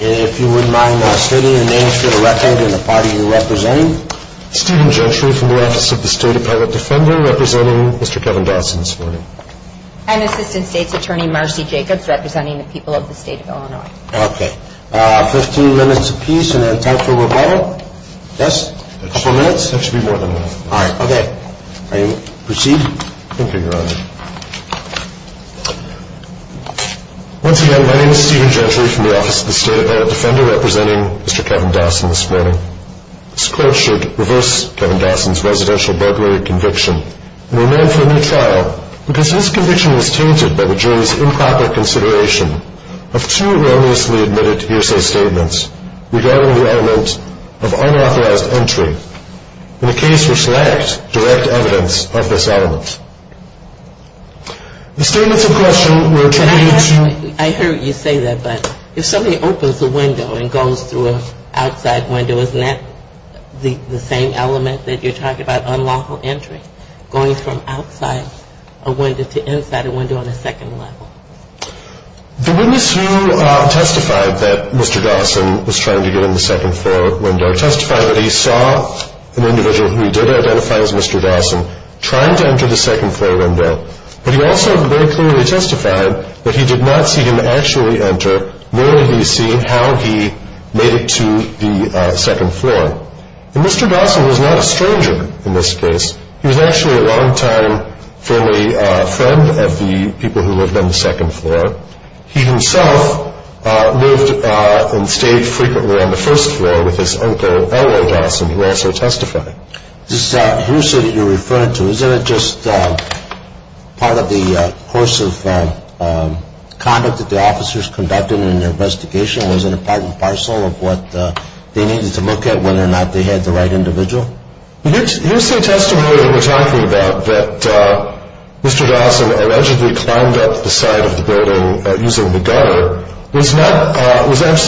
if you wouldn't mind stating the names for the record and the party you're representing. Steven Gentry from the Office of the State Appellate Defender representing Mr. Kevin Dawson this morning. And Assistant State's Attorney Marcy Jacobs representing the people of the state of Illinois. Okay, 15 minutes a piece and then time for rebuttal? Yes? Two minutes? That should be more than enough. Alright, okay. Proceed? Thank you, Your Honor. Once again, my name is Steven Gentry from the Office of the State Appellate Defender representing Mr. Kevin Dawson this morning. This court should reverse Kevin Dawson's residential burglary conviction and remand for a new trial because his conviction was tainted by the jury's improper consideration of two erroneously admitted hearsay statements regarding the element of unauthorized entry in a case which lacked direct evidence of this element. The statements in question were attributed to... I heard you say that, but if somebody opens a window and goes through an outside window, isn't that the same element that you're talking about, unlawful entry, going from outside a window to inside a window on the second level? The witness who testified that Mr. Dawson was trying to get in the second floor window testified that he saw an individual who he did identify as Mr. Dawson trying to enter the second floor window, but he also very clearly testified that he did not see him actually enter, nor did he see how he made it to the second floor. And Mr. Dawson was not a stranger in this case. He was actually a long-time family friend of the people who lived on the second floor. He himself lived and stayed frequently on the first floor with his uncle, L.O. Dawson, who also testified. This hearsay that you're referring to, isn't it just part of the course of conduct that the officers conducted in their investigation? Was it a part and parcel of what they needed to look at, whether or not they had the right individual? The hearsay testimony that you're talking about, that Mr. Dawson allegedly climbed up the side of the building using the gutter,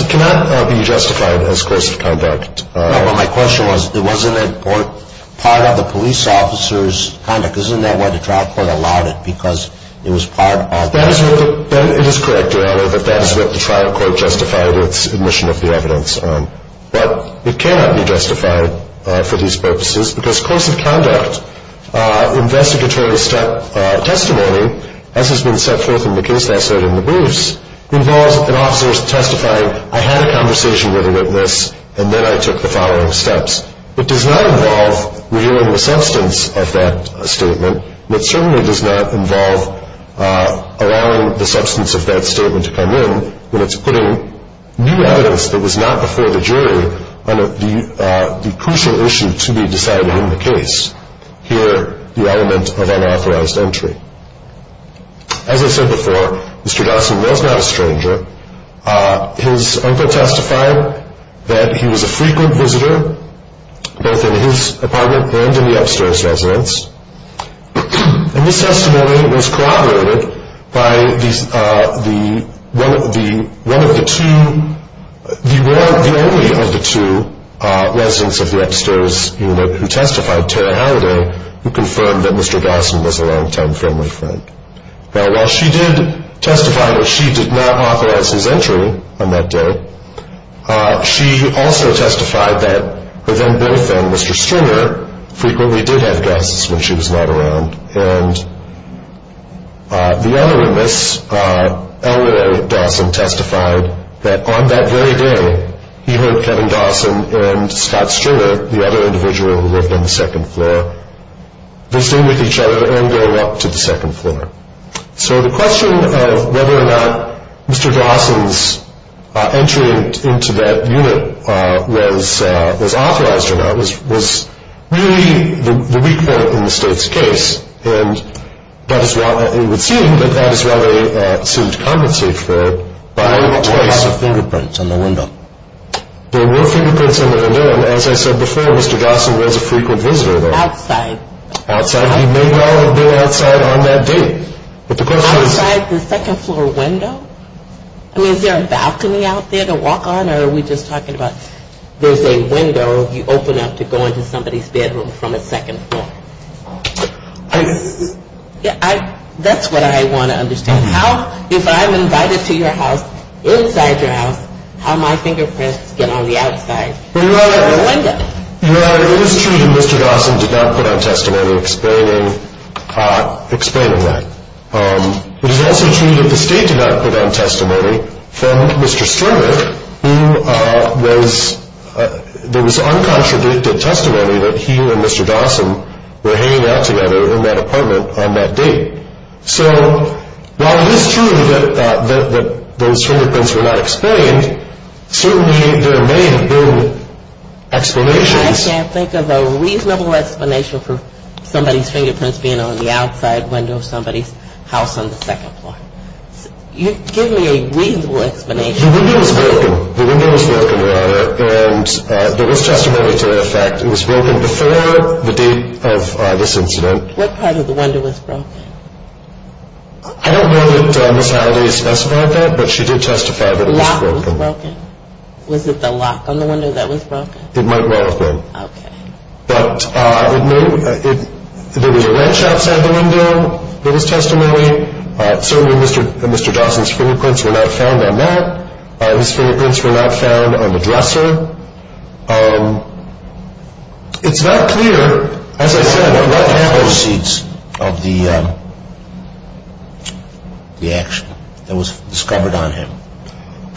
cannot be justified as course of conduct. No, but my question was, wasn't it part of the police officer's conduct? Isn't that why the trial court allowed it, because it was part of the- It is correct, Your Honor, that that is what the trial court justified its admission of the evidence on. But it cannot be justified for these purposes, because course of conduct investigatory testimony, as has been set forth in the case I cited in the briefs, involves an officer testifying, I had a conversation with a witness, and then I took the following steps. It does not involve revealing the substance of that statement, but certainly does not involve allowing the substance of that statement to come in when it's putting new evidence that was not before the jury on the crucial issue to be decided in the case. Here, the element of unauthorized entry. As I said before, Mr. Dawson was not a stranger. His uncle testified that he was a frequent visitor, both in his apartment and in the upstairs residence. And this testimony was corroborated by the only of the two residents of the upstairs unit who testified, Tara Halliday, who confirmed that Mr. Dawson was a longtime friendly friend. Now, while she did testify that she did not authorize his entry on that day, she also testified that her then-boyfriend, Mr. Stringer, frequently did have guests when she was not around. And the other witness, Eleanor Dawson, testified that on that very day, he heard Kevin Dawson and Scott Stringer, the other individual who lived on the second floor, visiting with each other and going up to the second floor. So the question of whether or not Mr. Dawson's entry into that unit was authorized or not was really the weak point in the state's case. And it would seem that that is what they sued to compensate for by choice. There were fingerprints on the window. There were fingerprints on the window. And as I said before, Mr. Dawson was a frequent visitor there. Outside. Outside. He may well have been outside on that day. Outside the second floor window? I mean, is there a balcony out there to walk on? Or are we just talking about there's a window you open up to go into somebody's bedroom from the second floor? That's what I want to understand. How, if I'm invited to your house, inside your house, how my fingerprints get on the outside of the window? Well, it is true that Mr. Dawson did not put on testimony explaining that. It is also true that the state did not put on testimony from Mr. Stringer, who was uncontradicted testimony that he and Mr. Dawson were hanging out together in that apartment on that day. So while it is true that those fingerprints were not explained, certainly there may have been explanations. I can't think of a reasonable explanation for somebody's fingerprints being on the outside window of somebody's house on the second floor. Give me a reasonable explanation. The window was broken. The window was broken, rather. And there was testimony to that fact. It was broken before the date of this incident. What part of the window was broken? I don't know that Ms. Halliday specified that, but she did testify that it was broken. The lock was broken? Was it the lock on the window that was broken? It might well have been. Okay. But I would note that there was a wrench outside the window that was testimony. Certainly Mr. Dawson's fingerprints were not found on that. His fingerprints were not found on the dresser. It's not clear, as I said, what were the antecedents of the action that was discovered on him.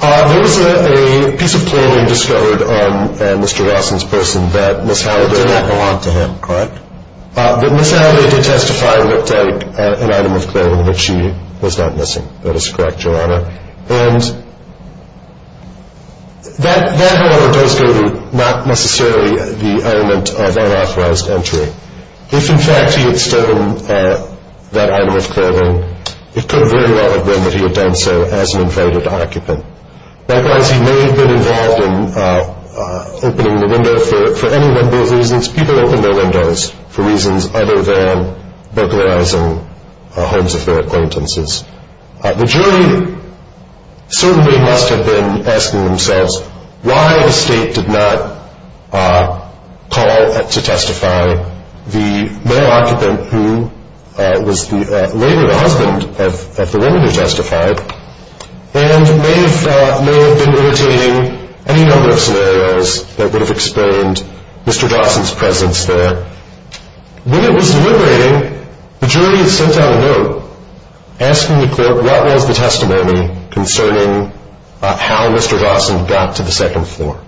There was a piece of clothing discovered on Mr. Dawson's person that Ms. Halliday- It did not belong to him, correct? That Ms. Halliday did testify looked like an item of clothing that she was not missing. That is correct, Your Honor. And that, however, does go to not necessarily the element of unauthorized entry. If, in fact, he had stolen that item of clothing, it could very well have been that he had done so as an invaded occupant. Likewise, he may have been involved in opening the window for any one of those reasons. People open their windows for reasons other than burglarizing homes of their acquaintances. The jury certainly must have been asking themselves why the state did not call to testify the male occupant, who was later the husband of the woman who testified, and may have been imitating any number of scenarios that would have explained Mr. Dawson's presence there. When it was deliberating, the jury sent out a note asking the court what was the testimony concerning how Mr. Dawson got to the second floor.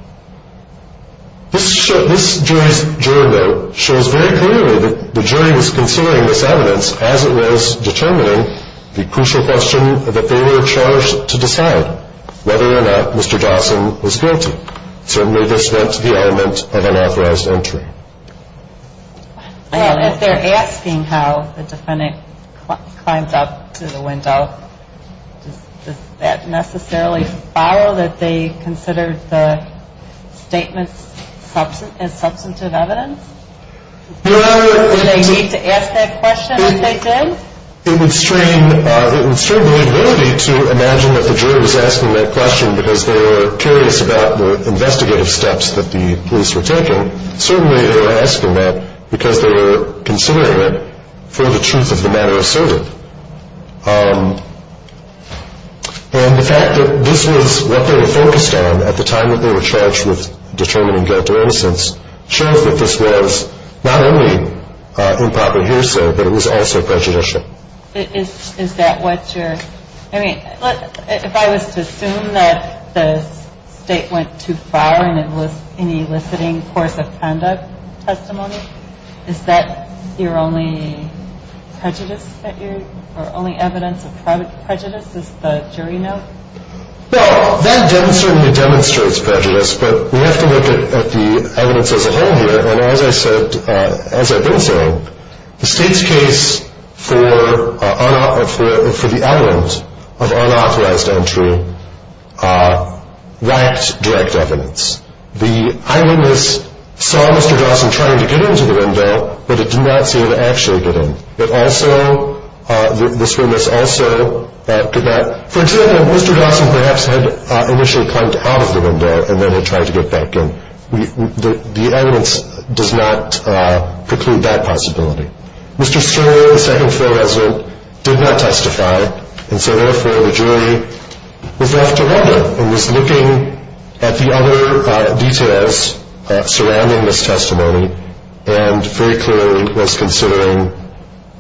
This jury note shows very clearly that the jury was considering this evidence as it was determining the crucial question that they were charged to decide whether or not Mr. Dawson was guilty. Certainly, this went to the element of unauthorized entry. If they're asking how the defendant climbed up to the window, does that necessarily follow that they considered the statements as substantive evidence? Do they need to ask that question if they did? It would strain the jury to imagine that the jury was asking that question because they were curious about the investigative steps that the police were taking. Certainly, they were asking that because they were considering it for the truth of the matter asserted. And the fact that this was what they were focused on at the time that they were charged with determining guilt or innocence shows that this was not only improper hearsay, but it was also prejudicial. If I was to assume that the state went too far in eliciting course of conduct testimony, is that your only evidence of prejudice, is the jury note? No, that certainly demonstrates prejudice, but we have to look at the evidence as a whole here. As I've been saying, the state's case for the element of unauthorized entry lacked direct evidence. The eyewitness saw Mr. Dawson trying to get into the window, but it did not seem to actually get in. For example, Mr. Dawson perhaps had initially climbed out of the window and then had tried to get back in. The evidence does not preclude that possibility. Mr. Sterling, the second floor resident, did not testify, and so therefore the jury was left to wonder and was looking at the other details surrounding this testimony and very clearly was considering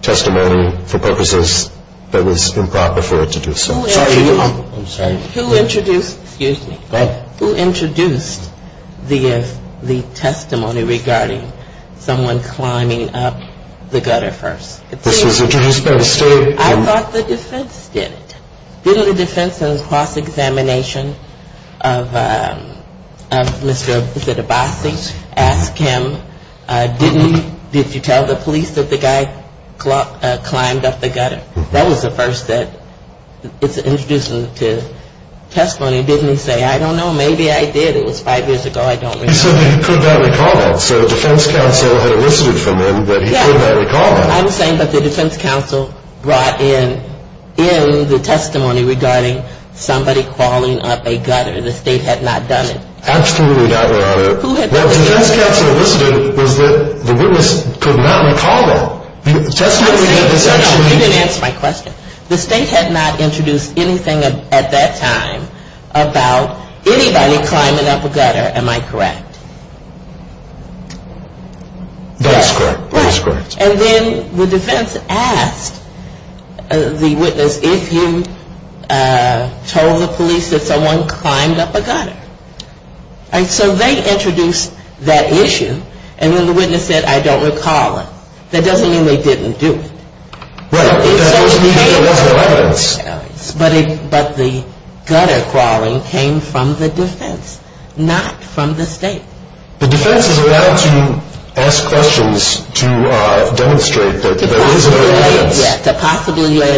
testimony for purposes that was improper for it to do so. Excuse me. Go ahead. Who introduced the testimony regarding someone climbing up the gutter first? This was introduced by the state. I thought the defense did it. Didn't the defense in the cross-examination of Mr. Debasi ask him, didn't you tell the police that the guy climbed up the gutter? That was the first that it's introduced to testimony. Didn't he say, I don't know, maybe I did. It was five years ago. I don't remember. He said that he could not recall that. So the defense counsel had elicited from him that he could not recall that. Yes. I'm saying that the defense counsel brought in the testimony regarding somebody crawling up a gutter. The state had not done it. Absolutely not, Your Honor. Who had done it? What the defense counsel elicited was that the witness could not recall that. You didn't answer my question. The state had not introduced anything at that time about anybody climbing up a gutter. Am I correct? That is correct. That is correct. And then the defense asked the witness if he told the police that someone climbed up a gutter. So they introduced that issue, and then the witness said, I don't recall it. That doesn't mean they didn't do it. Right. That's the evidence. But the gutter crawling came from the defense, not from the state. The defense is allowed to ask questions to demonstrate that there is a defense. To possibly lay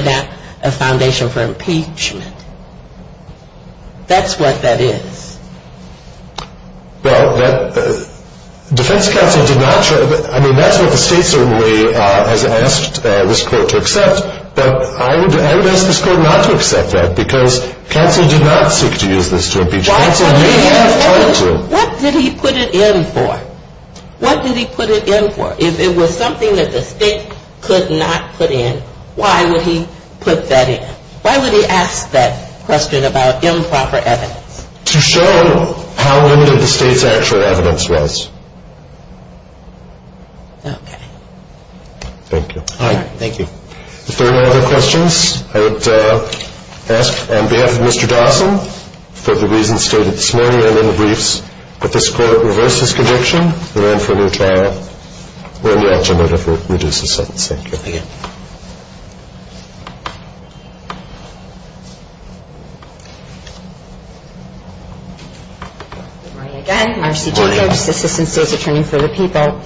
a foundation for impeachment. That's what that is. Well, defense counsel did not show that. I mean, that's what the state certainly has asked this court to accept. But I would ask this court not to accept that because counsel did not seek to use this to impeach. Counsel may have tried to. What did he put it in for? What did he put it in for? If it was something that the state could not put in, why would he put that in? Why would he ask that question about improper evidence? To show how limited the state's actual evidence was. Okay. Thank you. All right. Thank you. If there are no other questions, I would ask on behalf of Mr. Dawson, for the reasons stated this morning in the briefs, that this court reverse his conviction, and then for a new trial, where we actually reduce the sentence. Thank you. Thank you. Good morning again. Marcy Jacobs, Assistant State's Attorney for the People.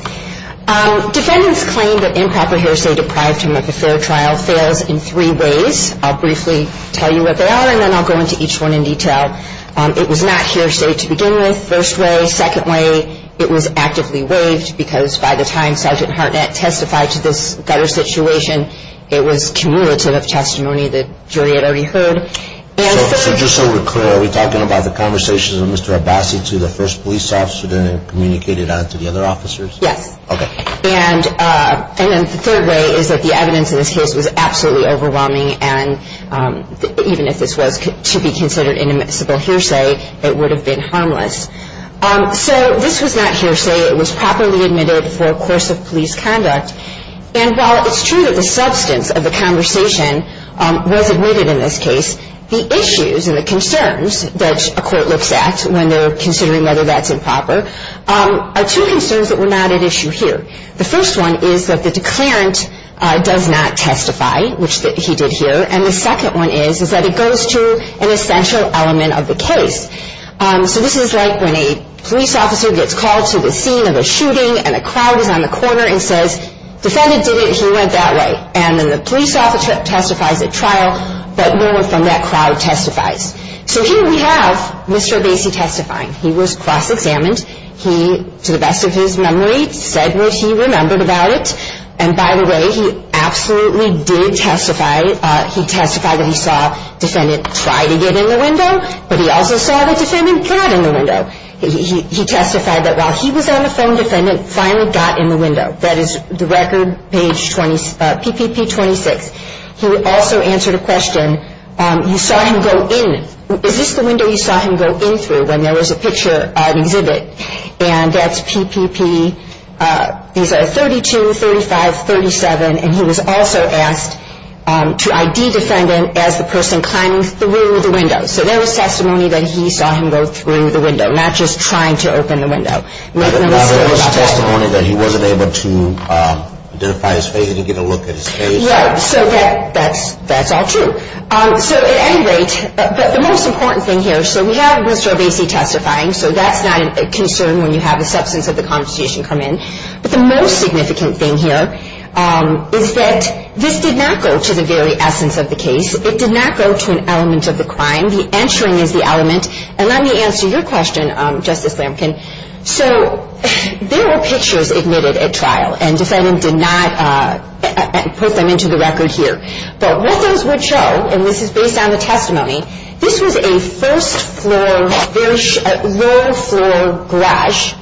Defendants claim that improper hearsay deprived him of a fair trial fails in three ways. I'll briefly tell you what they are, and then I'll go into each one in detail. It was not hearsay to begin with, first way. Second way, it was actively waived, because by the time Sergeant Hartnett testified to this better situation, it was cumulative of testimony the jury had already heard. So just so we're clear, are we talking about the conversations of Mr. Abbasi to the first police officer, then communicated on to the other officers? Yes. Okay. And then the third way is that the evidence in this case was absolutely overwhelming, and even if this was to be considered inadmissible hearsay, it would have been harmless. So this was not hearsay. It was properly admitted for a course of police conduct. And while it's true that the substance of the conversation was admitted in this case, the issues and the concerns that a court looks at when they're considering whether that's improper are two concerns that were not at issue here. The first one is that the declarant does not testify, which he did here, and the second one is that it goes to an essential element of the case. So this is like when a police officer gets called to the scene of a shooting and a crowd is on the corner and says, defendant did it, he went that way. And then the police officer testifies at trial, but no one from that crowd testifies. So here we have Mr. Abbasi testifying. He was cross-examined. He, to the best of his memory, said what he remembered about it, and by the way, he absolutely did testify. He testified that he saw a defendant try to get in the window, but he also saw the defendant got in the window. He testified that while he was on the phone, defendant finally got in the window. That is the record page PPP 26. He also answered a question, you saw him go in. Is this the window you saw him go in through when there was a picture exhibit? And that's PPP, these are 32, 35, 37, and he was also asked to ID defendant as the person climbing through the window. So there was testimony that he saw him go through the window, not just trying to open the window. There was testimony that he wasn't able to identify his face, he didn't get a look at his face. Right, so that's all true. So at any rate, the most important thing here, so we have Mr. Abbasi testifying, so that's not a concern when you have the substance of the constitution come in. But the most significant thing here is that this did not go to the very essence of the case. It did not go to an element of the crime. The answering is the element. And let me answer your question, Justice Flankin. So there were pictures admitted at trial, and defendant did not put them into the record here. But what those would show, and this is based on the testimony, this was a first-floor, very low-floor garage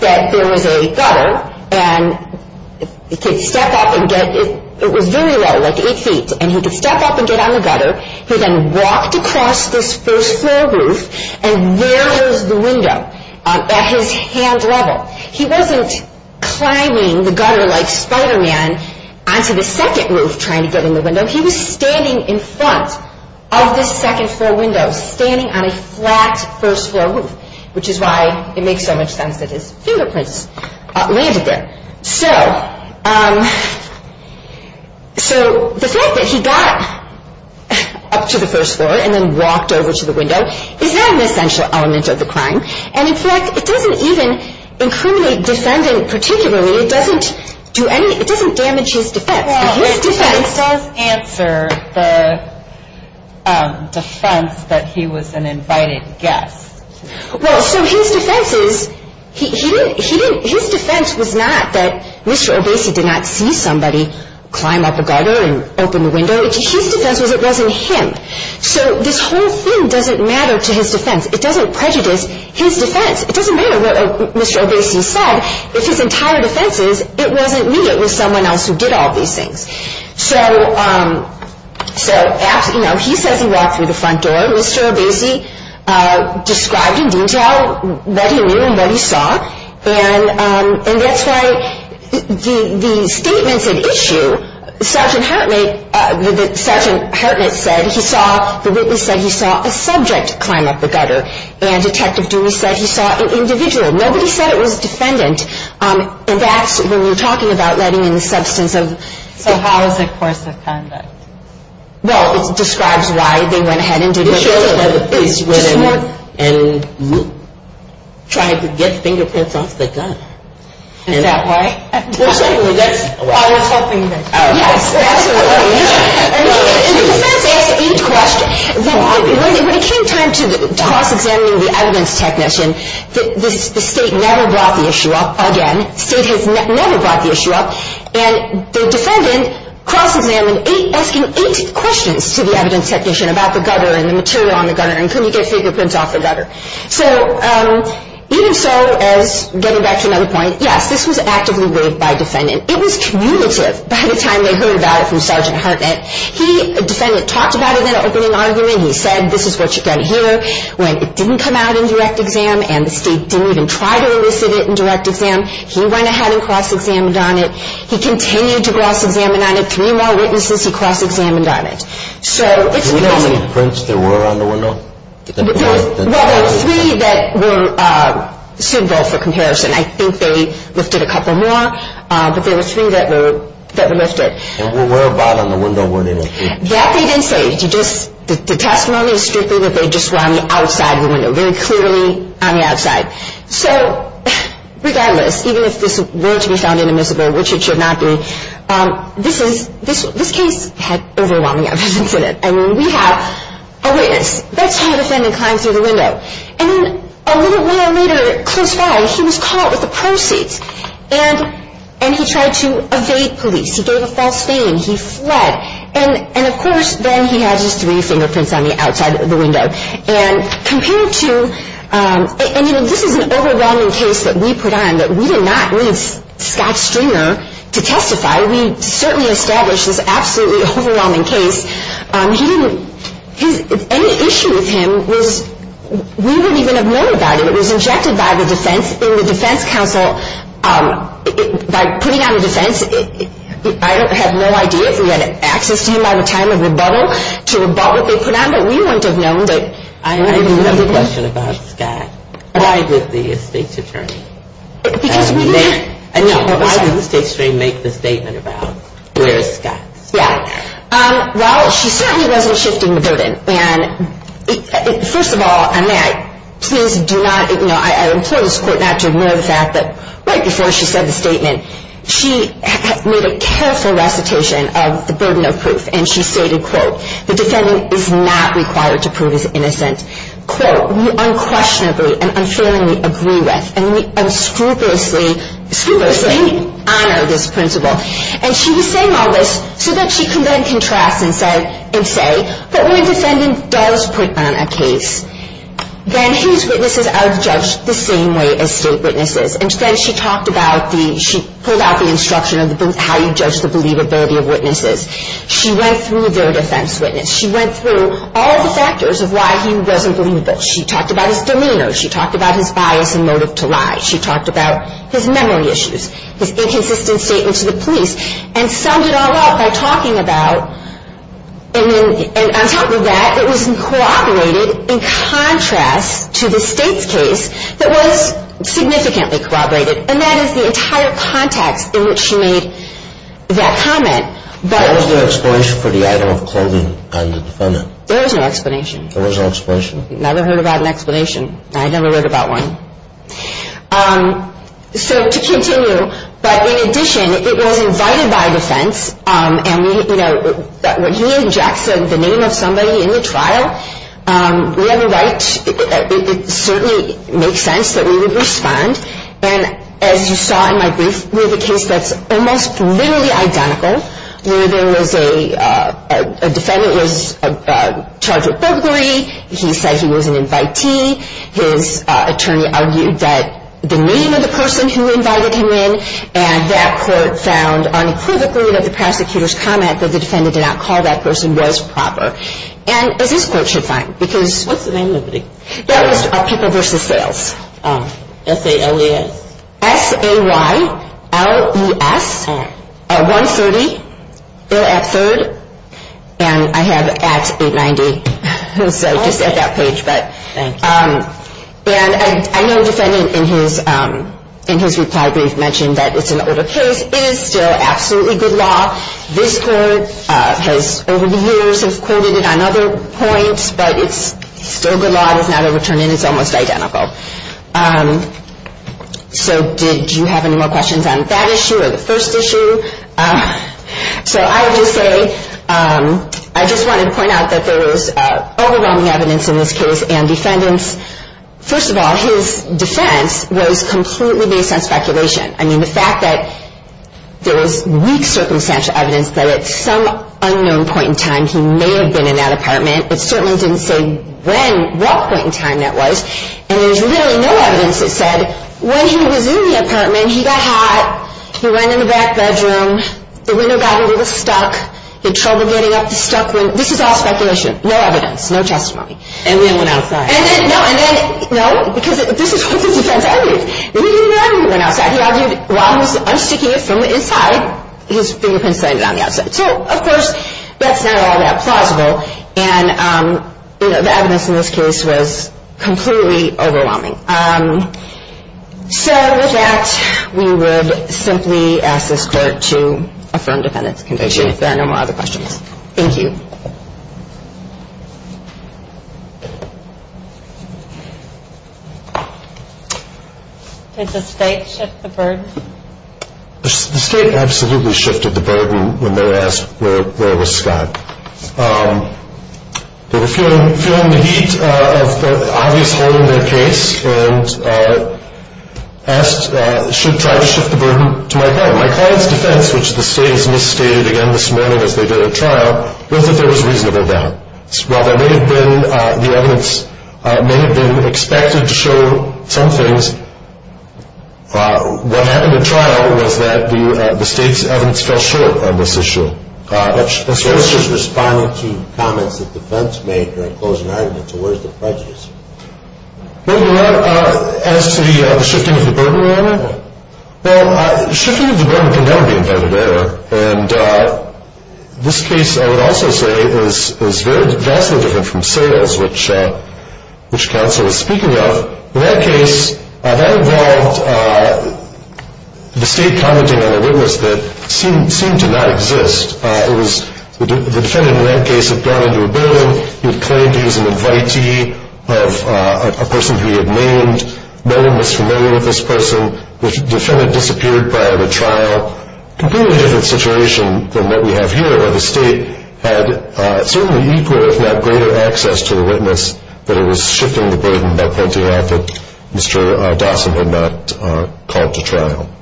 that there was a gutter, and the kid stepped up and got, it was very low, like eight feet, and he could step up and get on the gutter. He then walked across this first-floor roof, and there was the window at his hand level. He wasn't climbing the gutter like Spider-Man onto the second roof trying to get in the window. He was standing in front of this second-floor window, standing on a flat first-floor roof, which is why it makes so much sense that his fingerprints landed there. So the fact that he got up to the first floor and then walked over to the window is not an essential element of the crime. And in fact, it doesn't even incriminate defendant particularly. It doesn't do any, it doesn't damage his defense. Well, it does answer the defense that he was an invited guest. Well, so his defense is, he didn't, his defense was not that Mr. Obese did not see somebody climb up the gutter and open the window. His defense was it wasn't him. So this whole thing doesn't matter to his defense. It doesn't prejudice his defense. It doesn't matter what Mr. Obese said. If his entire defense is it wasn't me, it was someone else who did all these things. So, you know, he says he walked through the front door. Mr. Obese described in detail what he knew and what he saw. And that's why the statements at issue, Sergeant Hartnett said he saw, the witness said he saw a subject climb up the gutter. And Detective Dewey said he saw an individual. Nobody said it was a defendant. And that's when you're talking about letting in the substance of. So how is the course of conduct? Well, it describes why they went ahead and did what they did. It shows why the police went in and tried to get fingerprints off the gun. Is that why? Well, certainly, that's. I was hoping that. Yes, that's what it is. And the defense asked eight questions. When it came time to cross-examining the evidence technician, the state never brought the issue up again. The state has never brought the issue up. And the defendant cross-examined eight, asking eight questions to the evidence technician about the gutter and the material on the gutter and could he get fingerprints off the gutter. So even so, as getting back to another point, yes, this was actively weighed by defendant. It was cumulative by the time they heard about it from Sergeant Hartnett. He, the defendant, talked about it in an opening argument. He said, this is what you're going to hear. When it didn't come out in direct exam and the state didn't even try to elicit it in direct exam, he went ahead and cross-examined on it. He continued to cross-examine on it. Three more witnesses he cross-examined on it. Do we have any prints that were on the window? Well, there were three that were suitable for comparison. I think they lifted a couple more, but there were three that were lifted. And whereabout on the window were they lifted? That they didn't say. The testimony is strictly that they just were on the outside of the window, very clearly on the outside. So regardless, even if this were to be found inadmissible, which it should not be, this case had overwhelming evidence in it. I mean, we have a witness. That's how a defendant climbs through the window. And then a little while later, close by, he was caught with the proceeds. And he tried to evade police. He gave a false claim. He fled. And, of course, then he has his three fingerprints on the outside of the window. And compared to – and, you know, this is an overwhelming case that we put on that we did not leave Scott Stringer to testify. We certainly established this absolutely overwhelming case. He didn't – his – any issue with him was we wouldn't even have known about it. It was injected by the defense in the defense counsel. By putting on the defense, I have no idea if we had access to him by the time of rebuttal to rebutt what they put on. But we wouldn't have known that. I do have a question about Scott. Why did the state's attorney make – Because we didn't – Yeah. Well, she certainly wasn't shifting the burden. And, first of all, and may I please do not – you know, I implore this court not to ignore the fact that right before she said the statement, she made a careful recitation of the burden of proof. And she stated, quote, the defendant is not required to prove his innocence. Quote, we unquestionably and unfailingly agree with and we unscrupulously honor this principle. And she was saying all this so that she could then contrast and say, quote, when a defendant does put on a case, then his witnesses are judged the same way as state witnesses. And then she talked about the – she pulled out the instruction of how you judge the believability of witnesses. She went through their defense witness. She went through all the factors of why he wasn't believable. She talked about his demeanor. She talked about his bias and motive to lie. She talked about his memory issues, his inconsistent statement to the police. And summed it all up by talking about – and then – and on top of that, it was corroborated in contrast to the state's case that was significantly corroborated. And that is the entire context in which she made that comment. But – There was no explanation for the item of clothing on the defendant? There was no explanation. There was no explanation? Never heard about an explanation. I never read about one. So to continue, but in addition, it was invited by defense. And, you know, when he injects the name of somebody in the trial, we have a right – it certainly makes sense that we would respond. And as you saw in my brief, we have a case that's almost literally identical, where there was a – a defendant was charged with burglary. He said he was an invitee. His attorney argued that the name of the person who invited him in and that quote found unequivocally that the prosecutor's comment that the defendant did not call that person was proper. And as this court should find, because – What's the name of the – That was People v. Sales. S-A-L-E-S? S-A-Y-L-E-S. Oh. At 130. They're at third. And I have at 890. So just at that page, but – Thank you. And I know the defendant, in his – in his reply brief, mentioned that it's an older case. It is still absolutely good law. This court has, over the years, has quoted it on other points, but it's still good law. It has not overturned it. It's almost identical. So did you have any more questions on that issue or the first issue? So I would just say – I just wanted to point out that there was overwhelming evidence in this case, and defendants, first of all, his defense was completely based on speculation. I mean, the fact that there was weak circumstantial evidence that at some unknown point in time he may have been in that apartment, it certainly didn't say when, what point in time that was, and there's literally no evidence that said when he was in the apartment, And then he got hot. He went in the back bedroom. The window got a little stuck. He had trouble getting up the stuck window. This is all speculation. No evidence. No testimony. And then went outside. And then – no. And then – no. Because this is what the defense argued. He didn't know when he went outside. He argued while he was unsticking it from the inside, his fingerprints landed on the outside. So, of course, that's not all that plausible, and, you know, the evidence in this case was completely overwhelming. So, with that, we would simply ask this court to affirm defendant's conviction. If there are no other questions. Thank you. Did the state shift the burden? The state absolutely shifted the burden when they asked where was Scott. They were feeling the heat of the obvious hole in their case and should try to shift the burden to my client. My client's defense, which the state has misstated again this morning as they did at trial, was that there was reasonable doubt. While the evidence may have been expected to show some things, what happened at trial was that the state's evidence fell short on this issue. That's just responding to comments that defense made during closing arguments. So where's the prejudice? Well, as to the shifting of the burden, well, shifting of the burden can never be intended error, and this case, I would also say, is vastly different from Sayles, which counsel was speaking of. In that case, that involved the state commenting on a witness that seemed to not exist. The defendant in that case had gone into a building. He had claimed he was an invitee of a person who he had named. No one was familiar with this person. The defendant disappeared prior to trial. Completely different situation than what we have here, where the state had certainly equal, if not greater, access to the witness, but it was shifting the burden by pointing out that Mr. Dawson had not called to trial.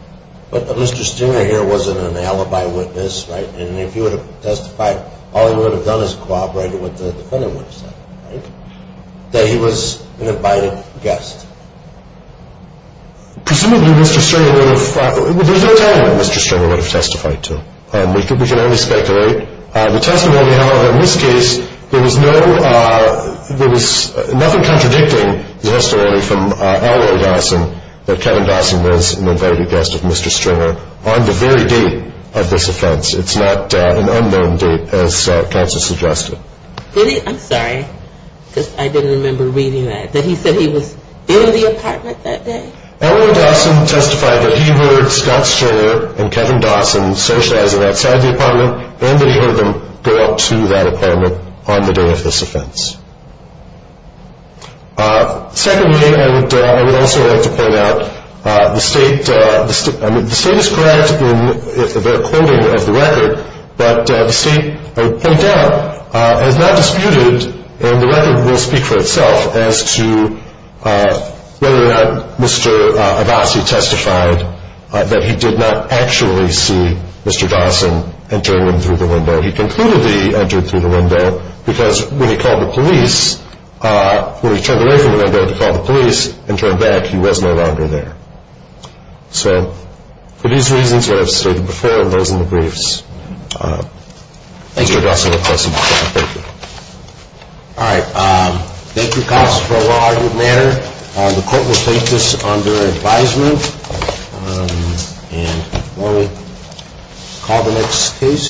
But Mr. Stringer here wasn't an alibi witness, right? And if he would have testified, all he would have done is cooperated with the defendant, right? That he was an invited guest. Presumably Mr. Stringer would have – there's no telling what Mr. Stringer would have testified to. We can only speculate. The testimony, however, in this case, there was no – there was nothing contradicting the testimony from Elroy Dawson that Kevin Dawson was an invited guest of Mr. Stringer on the very date of this offense. It's not an unknown date, as counsel suggested. Really? I'm sorry, because I didn't remember reading that. That he said he was in the apartment that day? Elroy Dawson testified that he heard Scott Stringer and Kevin Dawson socializing outside the apartment and that he heard them go up to that apartment on the day of this offense. Secondly, and I would also like to point out, the State – I mean, the State is correct in their quoting of the record, but the State, I would point out, has not disputed, and the record will speak for itself, as to whether or not Mr. Dawson testified that he did not actually see Mr. Dawson entering through the window. He concluded that he entered through the window because when he called the police – when he turned away from the window to call the police and turned back, he was no longer there. So for these reasons that I've stated before and those in the briefs, Mr. Dawson will testify. All right. Thank you, counsel, for a well-argued matter. The court will take this under advisement. And why don't we call the next case?